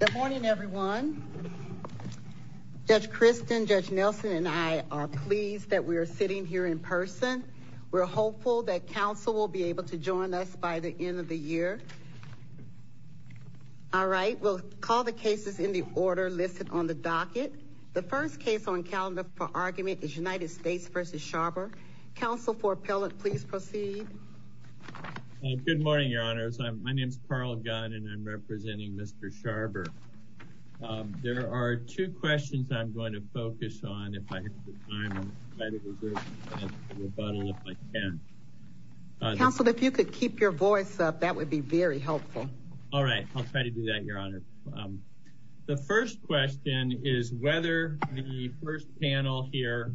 Good morning, everyone. Judge Kristen, Judge Nelson and I are pleased that we are sitting here in person. We're hopeful that counsel will be able to join us by the end of the year. All right, we'll call the cases in the order listed on the docket. The first case on calendar for argument is United States v. Scharber. Counsel for appellant, please proceed. Good morning, your honors. My name is Carl Gunn and I'm representing Mr. Scharber. There are two questions I'm going to focus on. If I have the time, I'll try to reserve some time for rebuttal if I can. Counsel, if you could keep your voice up, that would be very helpful. All right, I'll try to do that, your honor. The first question is whether the first panel here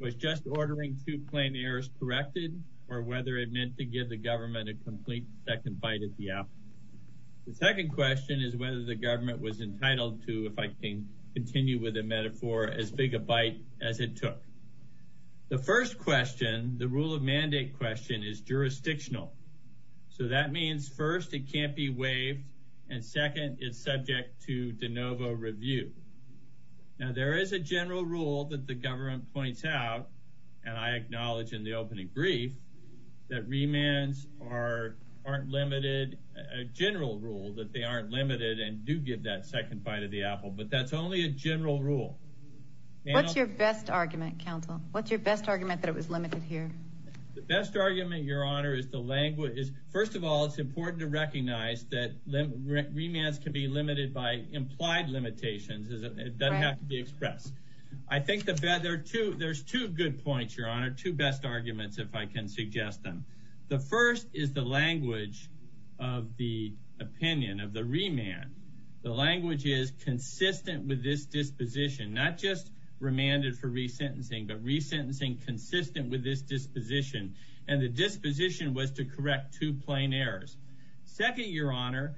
was just ordering two plain errors corrected or whether it meant to give the government a complete second bite at the apple. The second question is whether the government was entitled to, if I can continue with the metaphor, as big a bite as it took. The first question, the rule of mandate question, is jurisdictional. So that means, first, it can't be waived, and second, it's subject to de novo review. Now there is a general rule that the government points out, and I acknowledge in the opening brief, that remands aren't limited, a general rule that they aren't limited and do give that second bite of the apple. But that's only a general rule. What's your best argument, counsel? What's your best argument that it was limited here? The best argument, your honor, is the language. First of all, it's important to recognize that remands can be limited by implied limitations. It doesn't have to be expressed. I think there's two good points, your honor, two best arguments, if I can suggest them. The first is the language of the opinion, of the remand. The language is consistent with this disposition, not just remanded for resentencing, but resentencing consistent with this disposition. And the disposition was to correct two plain errors. Second, your honor,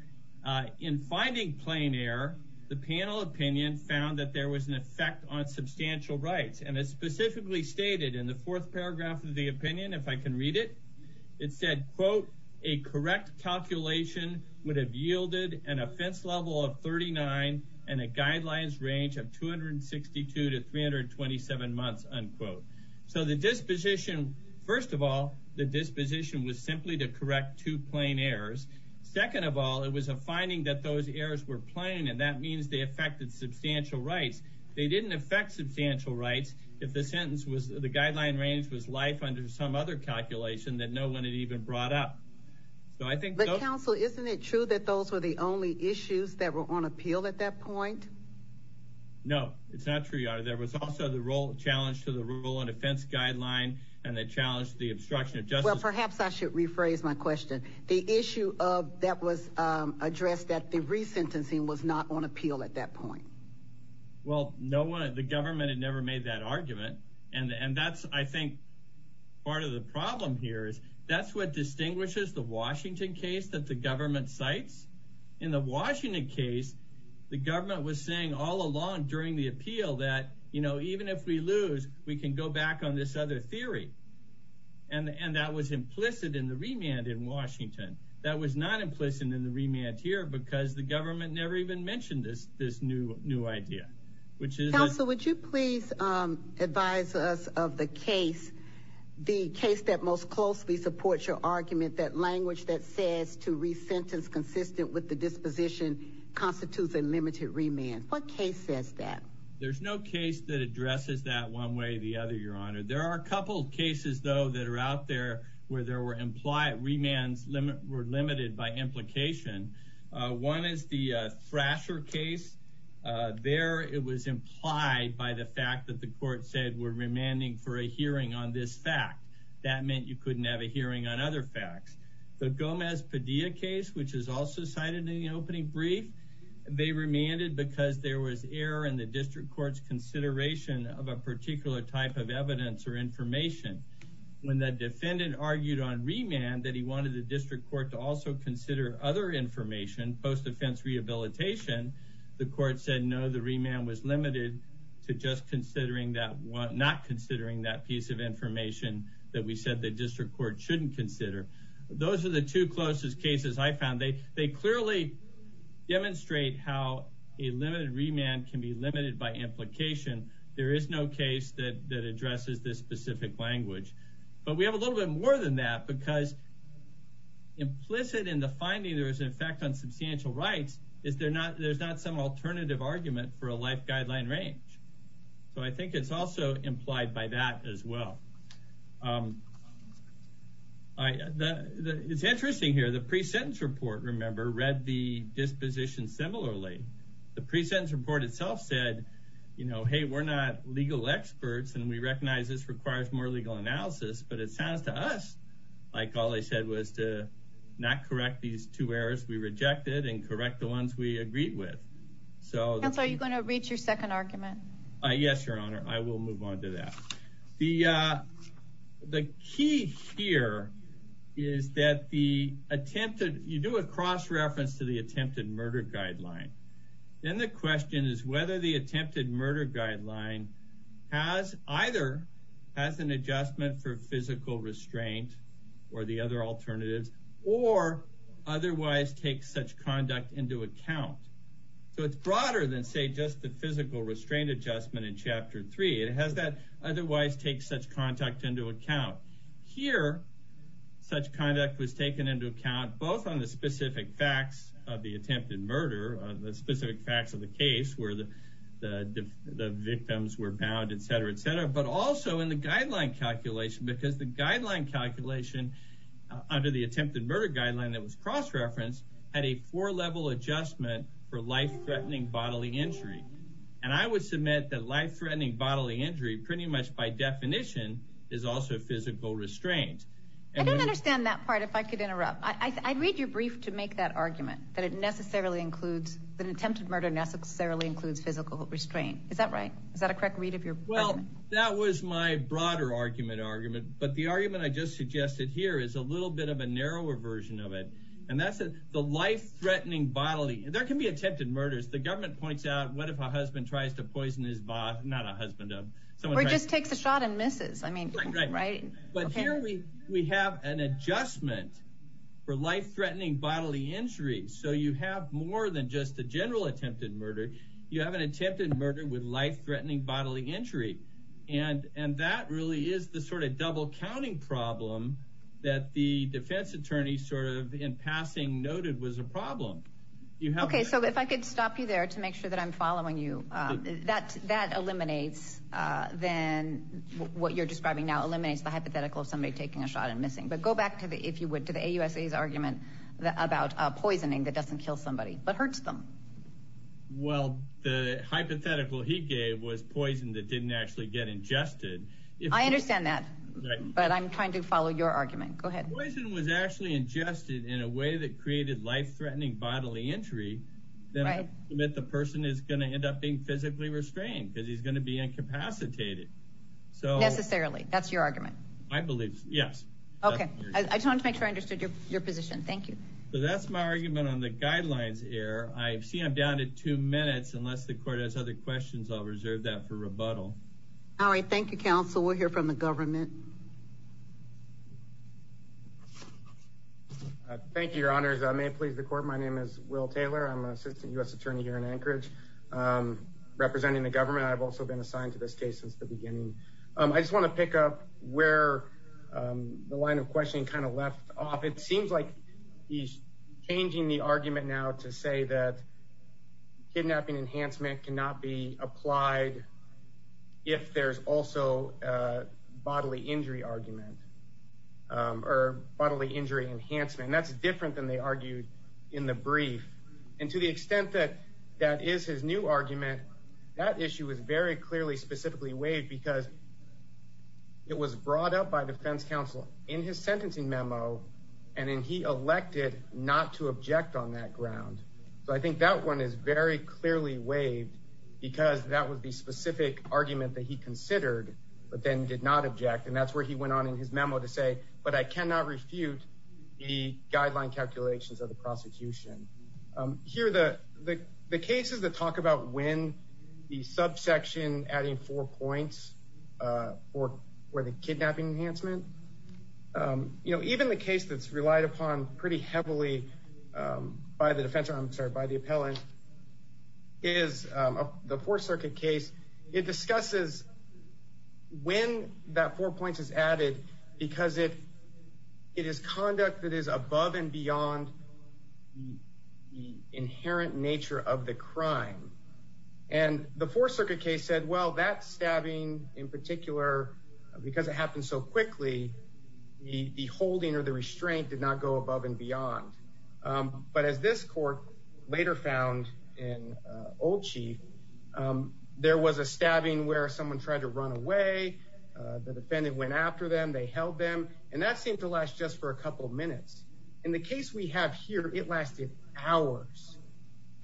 in finding plain error, the panel opinion found that there was an effect on substantial rights, and it specifically stated in the fourth paragraph of the opinion, if I can read it, it said, quote, a correct calculation would have yielded an offense level of 39 and a guidelines range of 262 to 327 months, unquote. So the disposition, first of all, the disposition was simply to correct two plain errors. Second of all, it was a finding that those errors were plain, and that means they affected substantial rights. They didn't affect substantial rights. If the sentence was, the guideline range was life under some other calculation that no one had even brought up. So I think- But counsel, isn't it true that those were the only issues that were on appeal at that point? No, it's not true, your honor. There was also the role challenge to the rule and offense guideline, and that challenged the obstruction of justice- Well, perhaps I should rephrase my question. The issue of that was addressed that the resentencing was Well, no one, the government had never made that argument. And that's, I think, part of the problem here is that's what distinguishes the Washington case that the government cites. In the Washington case, the government was saying all along during the appeal that, you know, even if we lose, we can go back on this other theory. And that was implicit in the remand in Washington. That was not implicit in the remand here because the government never even mentioned this new idea, which is- Counsel, would you please advise us of the case, the case that most closely supports your argument, that language that says to resentence consistent with the disposition constitutes a limited remand, what case says that? There's no case that addresses that one way or the other, your honor. There are a couple of cases, though, that are out there where there were implied remands were limited by implication. One is the Thrasher case. There, it was implied by the fact that the court said we're remanding for a hearing on this fact. That meant you couldn't have a hearing on other facts. The Gomez-Padilla case, which is also cited in the opening brief, they remanded because there was error in the district court's consideration of a particular type of evidence or information. When the defendant argued on remand that he wanted the district court to also know the remand was limited to just considering that one, not considering that piece of information that we said the district court shouldn't consider. Those are the two closest cases I found. They clearly demonstrate how a limited remand can be limited by implication. There is no case that addresses this specific language, but we have a little bit more than that because implicit in the finding there is an effect on for a life guideline range. I think it's also implied by that as well. It's interesting here, the pre-sentence report, remember, read the disposition similarly, the pre-sentence report itself said, hey, we're not legal experts and we recognize this requires more legal analysis, but it sounds to us like all they said was to not correct these two errors we rejected and correct the ones we agreed with, so that's why you're going to reach your second argument. Yes, your honor. I will move on to that. The, the key here is that the attempted, you do a cross-reference to the attempted murder guideline. Then the question is whether the attempted murder guideline has either has an adjustment for physical restraint or the other alternatives, or otherwise take such conduct into account. So it's broader than say just the physical restraint adjustment in chapter three, it has that otherwise take such contact into account here. Such conduct was taken into account, both on the specific facts of the attempted murder, the specific facts of the case where the, the, the victims were bound, et cetera, et cetera, but also in the guideline calculation, because the guideline calculation under the attempted murder guideline that was cross-referenced had a four level adjustment for life-threatening bodily injury, and I would submit that life-threatening bodily injury pretty much by definition is also physical restraint. I don't understand that part. If I could interrupt, I I'd read your brief to make that argument that it necessarily includes that attempted murder necessarily includes physical restraint. Is that right? Is that a correct read of your argument? That was my broader argument argument, but the argument I just suggested here is a little bit of a narrower version of it, and that's the life-threatening bodily, there can be attempted murders. The government points out, what if a husband tries to poison his boss, not a husband of someone. Or just takes a shot and misses. I mean, right. But here we, we have an adjustment for life-threatening bodily injuries. So you have more than just a general attempted murder. You have an attempted murder with life-threatening bodily injury. And, and that really is the sort of double counting problem that the defense attorney sort of in passing noted was a problem. You have. Okay. So if I could stop you there to make sure that I'm following you that, that eliminates then what you're describing now eliminates the hypothetical of somebody taking a shot and missing, but go back to the, if you would, to the AUSA's argument about poisoning that doesn't kill somebody, but hurts them. Well, the hypothetical he gave was poison that didn't actually get ingested. If I understand that, but I'm trying to follow your argument. Go ahead. Poison was actually ingested in a way that created life-threatening bodily injury that the person is going to end up being physically restrained because he's going to be incapacitated. So necessarily that's your argument. I believe so. Yes. Okay. I just wanted to make sure I understood your, your position. Thank you. So that's my argument on the guidelines air. I've seen I'm down to two minutes, unless the court has other questions. I'll reserve that for rebuttal. All right. Thank you. Counsel. We'll hear from the government. Thank you, your honors. I may please the court. My name is Will Taylor. I'm an assistant U S attorney here in Anchorage, representing the government. I've also been assigned to this case since the beginning. I just want to pick up where the line of questioning kind of left off. It seems like he's changing the argument now to say that kidnapping enhancement cannot be applied if there's also a bodily injury argument or bodily injury enhancement, and that's different than they argued in the brief. And to the extent that that is his new argument, that issue was very clearly specifically weighed because it was brought up by defense counsel in his and then he elected not to object on that ground. So I think that one is very clearly waived because that would be specific argument that he considered, but then did not object. And that's where he went on in his memo to say, but I cannot refute the guideline calculations of the prosecution here. The, the, the cases that talk about when the subsection adding four points or where the kidnapping enhancement, you know, even the case that's relied upon pretty heavily by the defense, I'm sorry, by the appellant is the fourth circuit case, it discusses when that four points is added because it, it is conduct that is above and beyond the inherent nature of the crime. And the fourth circuit case said, well, that stabbing in particular, because it happened so quickly, the, the holding or the restraint did not go above and beyond. But as this court later found in old chief, there was a stabbing where someone tried to run away. The defendant went after them, they held them. And that seemed to last just for a couple of minutes. In the case we have here, it lasted hours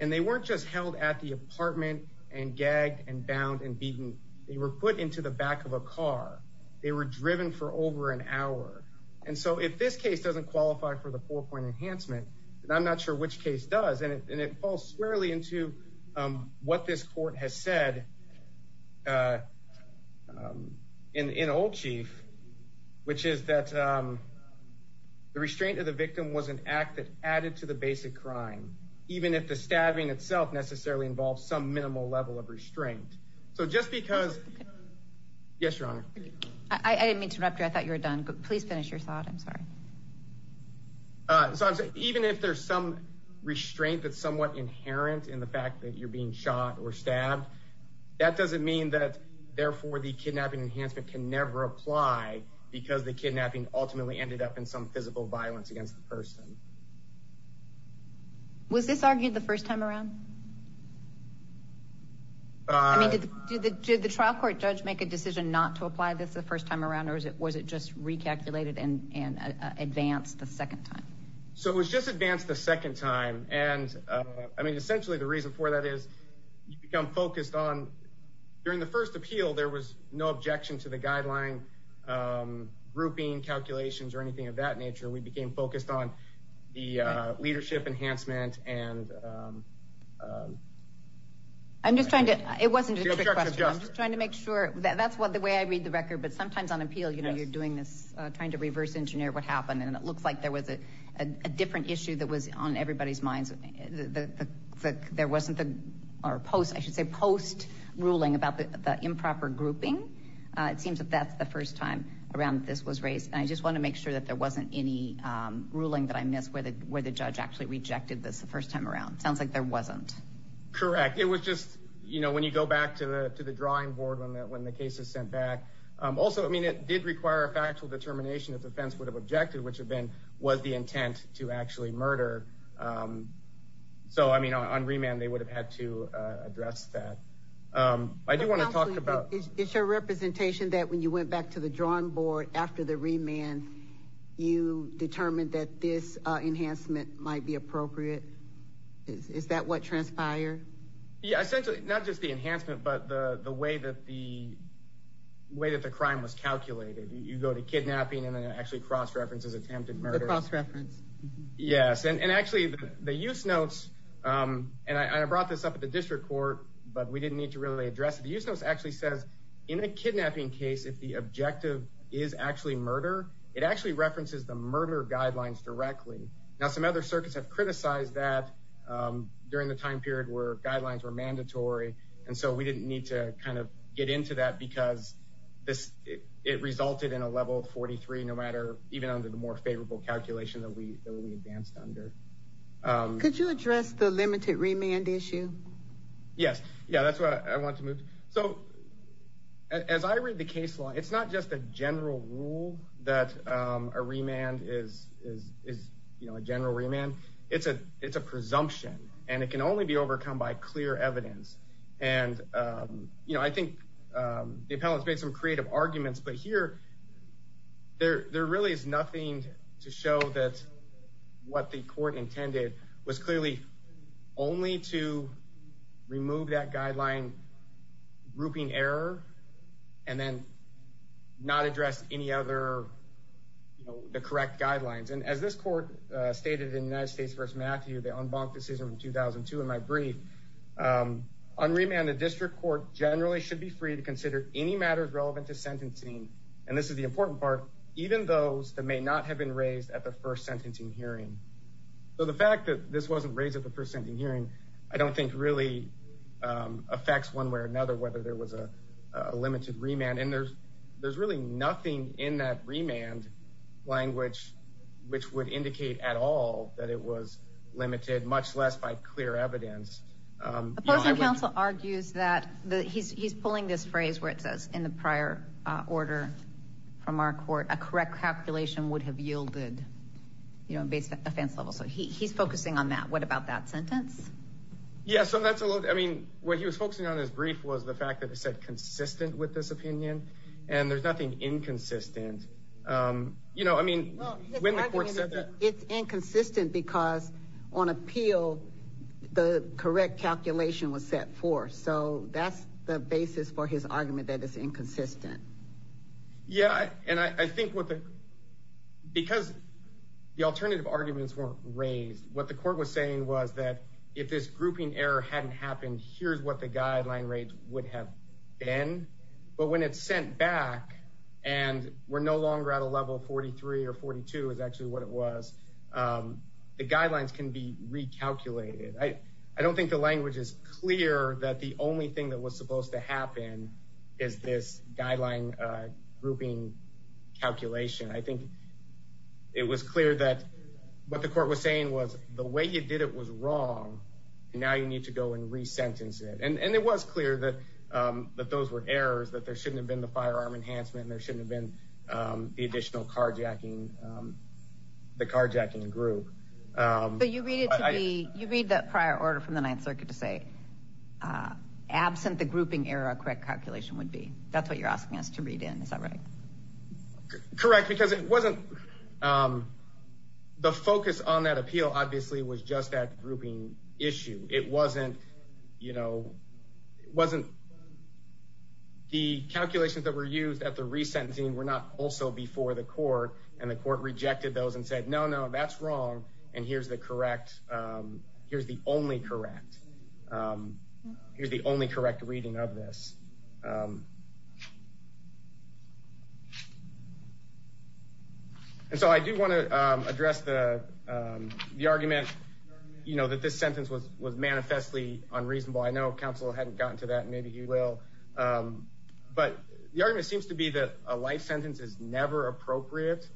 and they weren't just held at the apartment and gagged and bound and beaten, they were put into the back of a car. They were driven for over an hour. And so if this case doesn't qualify for the four point enhancement, and I'm not sure which case does, and it, and it falls squarely into what this court has said in, in old chief, which is that the restraint of the victim was an act that added to the basic crime, even if the stabbing itself necessarily involves some minimal level of restraint. So just because yes, your honor. I didn't mean to interrupt you. I thought you were done, but please finish your thought. I'm sorry. Uh, so even if there's some restraint that's somewhat inherent in the fact that you're being shot or stabbed, that doesn't mean that therefore the kidnapping enhancement can never apply because the kidnapping ultimately ended up in some physical violence against the person. Was this argued the first time around? I mean, did the, did the, did the trial court judge make a decision not to apply this the first time around? Or is it, was it just recalculated and, and advanced the second time? So it was just advanced the second time. And, uh, I mean, essentially the reason for that is you become focused on. During the first appeal, there was no objection to the guideline, um, grouping calculations or anything of that nature. We became focused on the, uh, leadership enhancement and, um, um, I'm just trying to, it wasn't just trying to make sure that that's what the way I read the record, but sometimes on appeal, you know, you're doing this, uh, trying to reverse engineer what happened and it looks like there was a, a different issue that was on everybody's minds that there wasn't the, or post, I should say post ruling about the improper grouping. Uh, it seems that that's the first time around this was raised. And I just want to make sure that there wasn't any, um, ruling that I missed where the, where the judge actually rejected this the first time around. Sounds like there wasn't correct. It was just, you know, when you go back to the, to the drawing board, when that, when the case is sent back, um, also, I mean, it did require a factual determination of defense would have objected, which have been, was the intent to actually murder. Um, so, I mean, on, on remand, they would have had to, uh, address that. Um, I do want to talk about it's your representation that when you went back to the drawing board after the remand, you determined that this, uh, enhancement might be appropriate. Is that what transpired? Yeah, essentially not just the enhancement, but the way that the way that the crime was calculated, you go to kidnapping and then it actually cross-references attempted murder. Yes. And actually the use notes, um, and I, I brought this up at the district court, but we didn't need to really address it. The use notes actually says in a kidnapping case, if the objective is actually murder, it actually references the murder guidelines directly. Now, some other circuits have criticized that, um, during the time period where guidelines were mandatory. And so we didn't need to kind of get into that because this, it resulted in a level of 43, no matter, even under the more favorable calculation that we, that we advanced under. Um, could you address the limited remand issue? Yes. Yeah. That's what I want to move. So as I read the case law, it's not just a general rule that, um, a remand is, is, is, you know, a general remand. It's a, it's a presumption and it can only be overcome by clear evidence. And, um, you know, I think, um, the appellants made some creative arguments, but here there, there really is nothing to show that what the court intended was clearly only to remove that guideline, grouping error, and then not address any other, you know, the correct guidelines. And as this court, uh, stated in United States versus Matthew, the unbunked decision from 2002, in my brief, um, on remand, the district court generally should be free to consider any matters relevant to sentencing, and this is the important part, even those that may not have been raised at the first sentencing hearing. So the fact that this wasn't raised at the first sentencing hearing, I don't think really, um, affects one way or another, whether there was a, a limited remand and there's, there's really nothing in that remand language, which would indicate at all that it was limited, much less by clear evidence. Um, Opposing counsel argues that the, he's, he's pulling this phrase where it says in the prior, uh, order from our court, a correct calculation would have yielded, you know, based on offense level. So he, he's focusing on that. What about that sentence? Yeah. So that's a little, I mean, what he was focusing on his brief was the fact that it said consistent with this opinion and there's nothing inconsistent. Um, you know, I mean, when the court said that it's inconsistent because on appeal, the correct calculation was set for. So that's the basis for his argument. That is inconsistent. Yeah. And I think what the, because the alternative arguments weren't raised, what the court was saying was that if this grouping error hadn't happened, here's what the guideline rates would have been, but when it's sent back and we're no longer at a level 43 or 42 is actually what it was, um, the guidelines can be recalculated. I, I don't think the language is clear that the only thing that was supposed to happen is this guideline, uh, grouping calculation. I think it was clear that what the court was saying was the way you did it was wrong and now you need to go and re-sentence it. And, and it was clear that, um, that those were errors, that there shouldn't have been the firearm enhancement and there shouldn't have been, um, the additional carjacking, um, the carjacking group, um, but you read it to me. You read that prior order from the ninth circuit to say, uh, absent the grouping error, correct calculation would be, that's what you're asking us to read in. Is that right? Correct. Because it wasn't, um, the focus on that appeal obviously was just that grouping issue. It wasn't, you know, it wasn't the calculations that were used at the re-sentencing were not also before the court and the court rejected those and said, no, no, that's wrong. And here's the correct, um, here's the only correct, um, here's the only correct reading of this, um, And so I do want to, um, address the, um, the argument, you know, that this sentence was, was manifestly unreasonable. I know counsel hadn't gotten to that and maybe he will. Um, but the argument seems to be that a life sentence is never appropriate.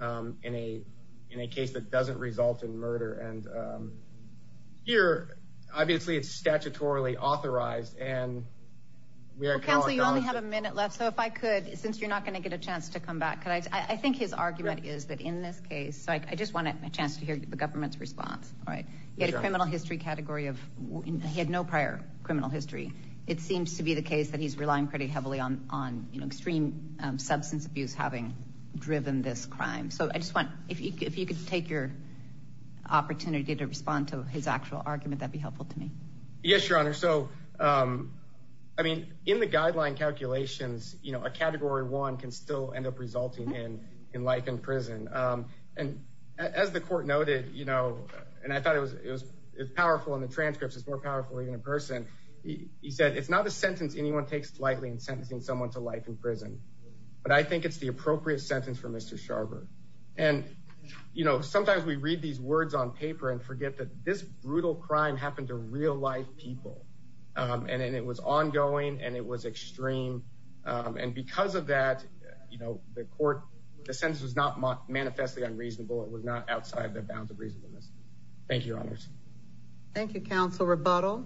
Um, in a, in a case that doesn't result in murder. And, um, here, obviously it's statutorily authorized and we are. Counsel, you only have a minute left. So if I could, since you're not going to get a chance to come back, could I, I think his argument is that in this case, so I just want a chance to hear the government's response, right? You had a criminal history category of, he had no prior criminal history. It seems to be the case that he's relying pretty heavily on, on, you know, extreme substance abuse, having driven this crime. So I just want, if, if you could take your opportunity to respond to his actual argument, that'd be helpful to me. Yes, Your Honor. So, um, I mean, in the guideline calculations, you know, a category one can still end up resulting in, in life in prison. Um, and as the court noted, you know, and I thought it was, it was powerful in the transcripts, it's more powerful even in person, he said, it's not a sentence anyone takes lightly in sentencing someone to life in prison. But I think it's the appropriate sentence for Mr. Sharver and, you know, sometimes we read these words on paper and forget that this brutal crime happened to real life people, um, and, and it was ongoing and it was extreme. Um, and because of that, you know, the court, the sentence was not manifestly unreasonable. It was not outside the bounds of reasonableness. Thank you, Your Honors. Thank you, counsel. Rebuttal.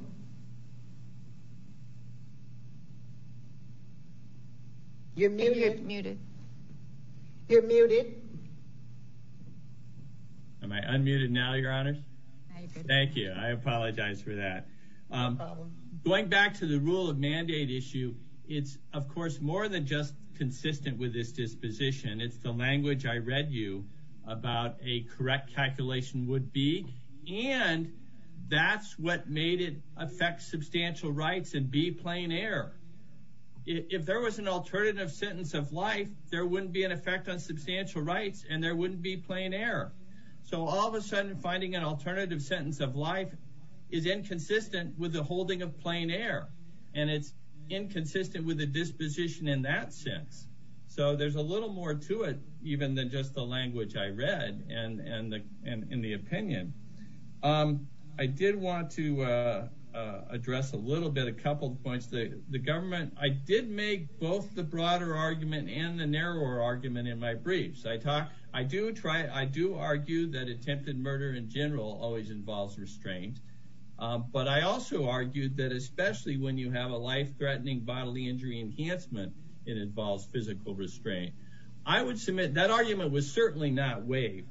You're muted, muted. You're muted. Am I unmuted now, Your Honors? Thank you. I apologize for that. Um, going back to the rule of mandate issue, it's of course more than just consistent with this disposition. It's the language I read you about a correct calculation would be, and that's what made it affect substantial rights and be plain air, if there was an effect on substantial rights and there wouldn't be plain air. So all of a sudden finding an alternative sentence of life is inconsistent with the holding of plain air. And it's inconsistent with the disposition in that sense. So there's a little more to it, even than just the language I read and, and the, and in the opinion. Um, I did want to, uh, uh, address a little bit, a couple of points. The, the government, I did make both the broader argument and the narrower argument in my briefs. I talk, I do try, I do argue that attempted murder in general always involves restraint. Um, but I also argued that especially when you have a life threatening bodily injury enhancement, it involves physical restraint. I would submit that argument was certainly not waived.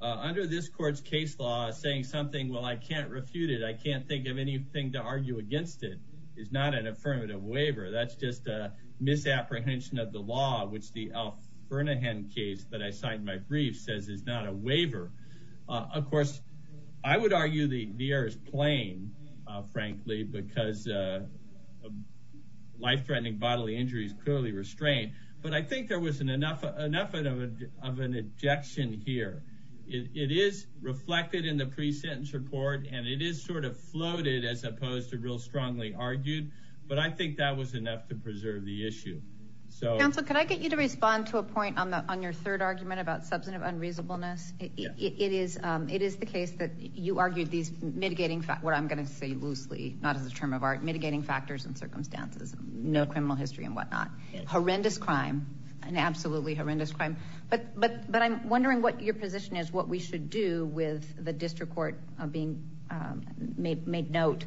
Uh, under this court's case law saying something, well, I can't refute it. I can't think of anything to argue against it. It's not an affirmative waiver. That's just a misapprehension of the law, which the Alf Bernahan case that I signed my brief says is not a waiver. Uh, of course I would argue the air is plain, uh, frankly, because, uh, life threatening bodily injuries clearly restrained, but I think there was an enough, enough of an objection here. It is reflected in the pre-sentence report and it is sort of floated as opposed to real strongly argued. But I think that was enough to preserve the issue. So. Counsel, could I get you to respond to a point on the, on your third argument about substantive unreasonableness, it is, um, it is the case that you argued these mitigating, what I'm going to say loosely, not as a term of art, mitigating factors and circumstances, no criminal history and whatnot, horrendous crime and absolutely horrendous crime, but, but, but I'm wondering what your position is, what we should do with the district court, uh, being, um, made, made note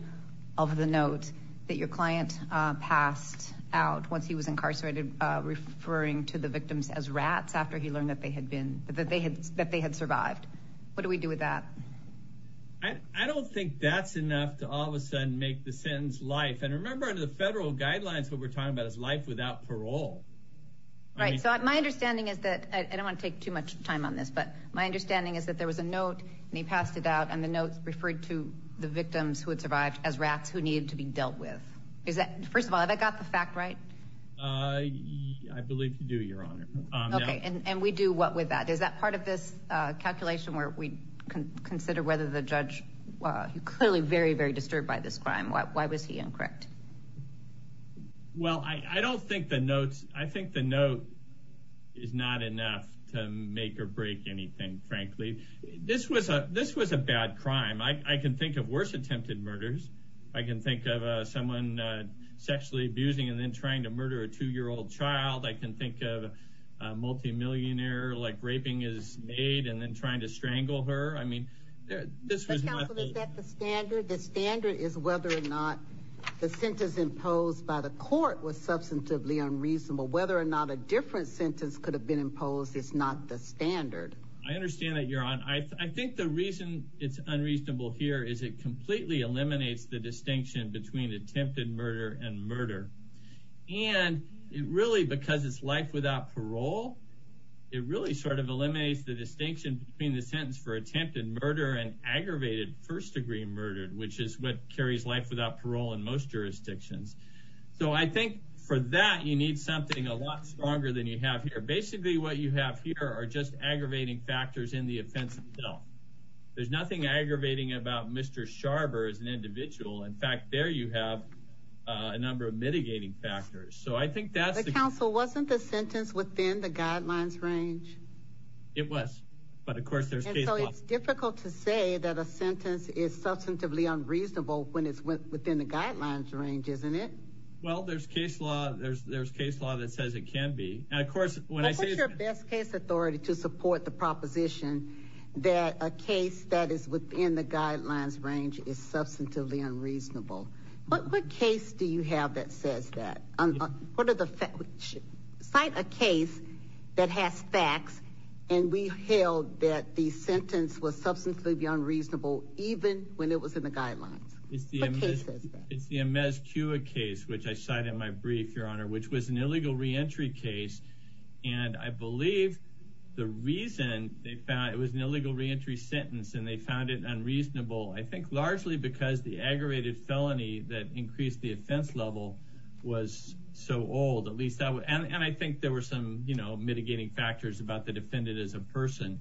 of the note that your client, uh, passed out once he was incarcerated, uh, referring to the victims as rats after he learned that they had been, that they had, that they had survived. What do we do with that? I don't think that's enough to all of a sudden make the sentence life. And remember under the federal guidelines, what we're talking about is life without parole. Right. So my understanding is that I don't want to take too much time on this, but my notes referred to the victims who had survived as rats who needed to be dealt with, is that, first of all, have I got the fact right? Uh, I believe you do your honor. Okay. And we do what with that? Is that part of this, uh, calculation where we can consider whether the judge, uh, clearly very, very disturbed by this crime, why, why was he incorrect? Well, I, I don't think the notes, I think the note is not enough to make or break anything, frankly. This was a, this was a bad crime. I can think of worse attempted murders. I can think of, uh, someone, uh, sexually abusing and then trying to murder a two-year-old child. I can think of a multimillionaire like raping his maid and then trying to strangle her. I mean, this was the standard. The standard is whether or not the sentence imposed by the court was substantively unreasonable. Whether or not a different sentence could have been imposed is not the standard. I understand that your honor. I think the reason it's unreasonable here is it completely eliminates the distinction between attempted murder and murder and it really, because it's life without parole, it really sort of eliminates the distinction between the sentence for attempted murder and aggravated first degree murder, which is what carries life without parole in most jurisdictions. So I think for that, you need something a lot stronger than you have here. Basically what you have here are just aggravating factors in the offense itself. There's nothing aggravating about Mr. Sharber as an individual. In fact, there, you have a number of mitigating factors. So I think that's the counsel. Wasn't the sentence within the guidelines range. It was, but of course there's difficult to say that a sentence is substantively unreasonable when it's within the guidelines range, isn't it? Well, there's case law there's there's case law that says it can be. And of course, when I say it's your best case authority to support the proposition that a case that is within the guidelines range is substantively unreasonable, but what case do you have that says that, what are the facts, cite a case that has facts and we held that the sentence was substantively unreasonable, even when it was in the guidelines, it's the MSQA case, which I cite in my brief, your honor, which was an and I believe the reason they found it was an illegal reentry sentence and they found it unreasonable. I think largely because the aggravated felony that increased the offense level was so old, at least that would. And I think there were some, you know, mitigating factors about the defendant as a person.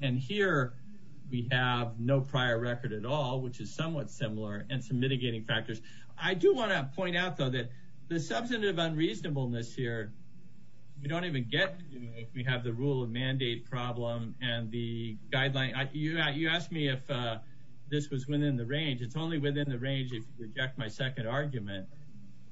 And here we have no prior record at all, which is somewhat similar and some mitigating factors. I do want to point out though, that the substantive unreasonableness here, we don't even get, you know, if we have the rule of mandate problem and the guideline, you asked me if this was within the range. It's only within the range. If you reject my second argument,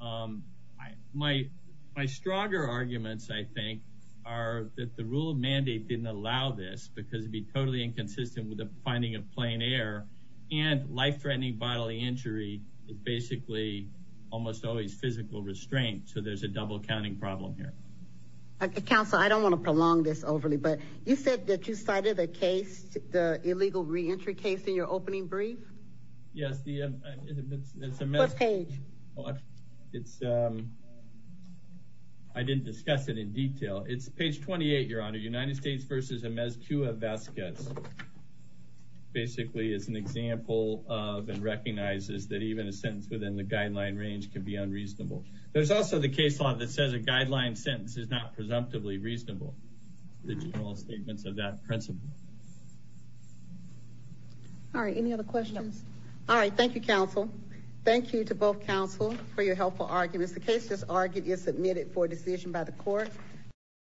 my, my stronger arguments, I think are that the rule of mandate didn't allow this because it'd be totally inconsistent with the finding of plain air and life-threatening bodily injury is basically almost always physical restraint. So there's a double counting problem here. Counsel, I don't want to prolong this overly, but you said that you cited a case, the illegal reentry case in your opening brief. Yes. The page it's, um, I didn't discuss it in detail. It's page 28, your honor, United States versus a mess. Cua Vasquez basically is an example of, and recognizes that even a sentence within the guideline range can be unreasonable. There's also the case law that says a guideline sentence is not presumptively reasonable, the general statements of that principle. All right. Any other questions? All right. Thank you. Counsel, thank you to both counsel for your helpful arguments. The case just argued is submitted for decision by the court.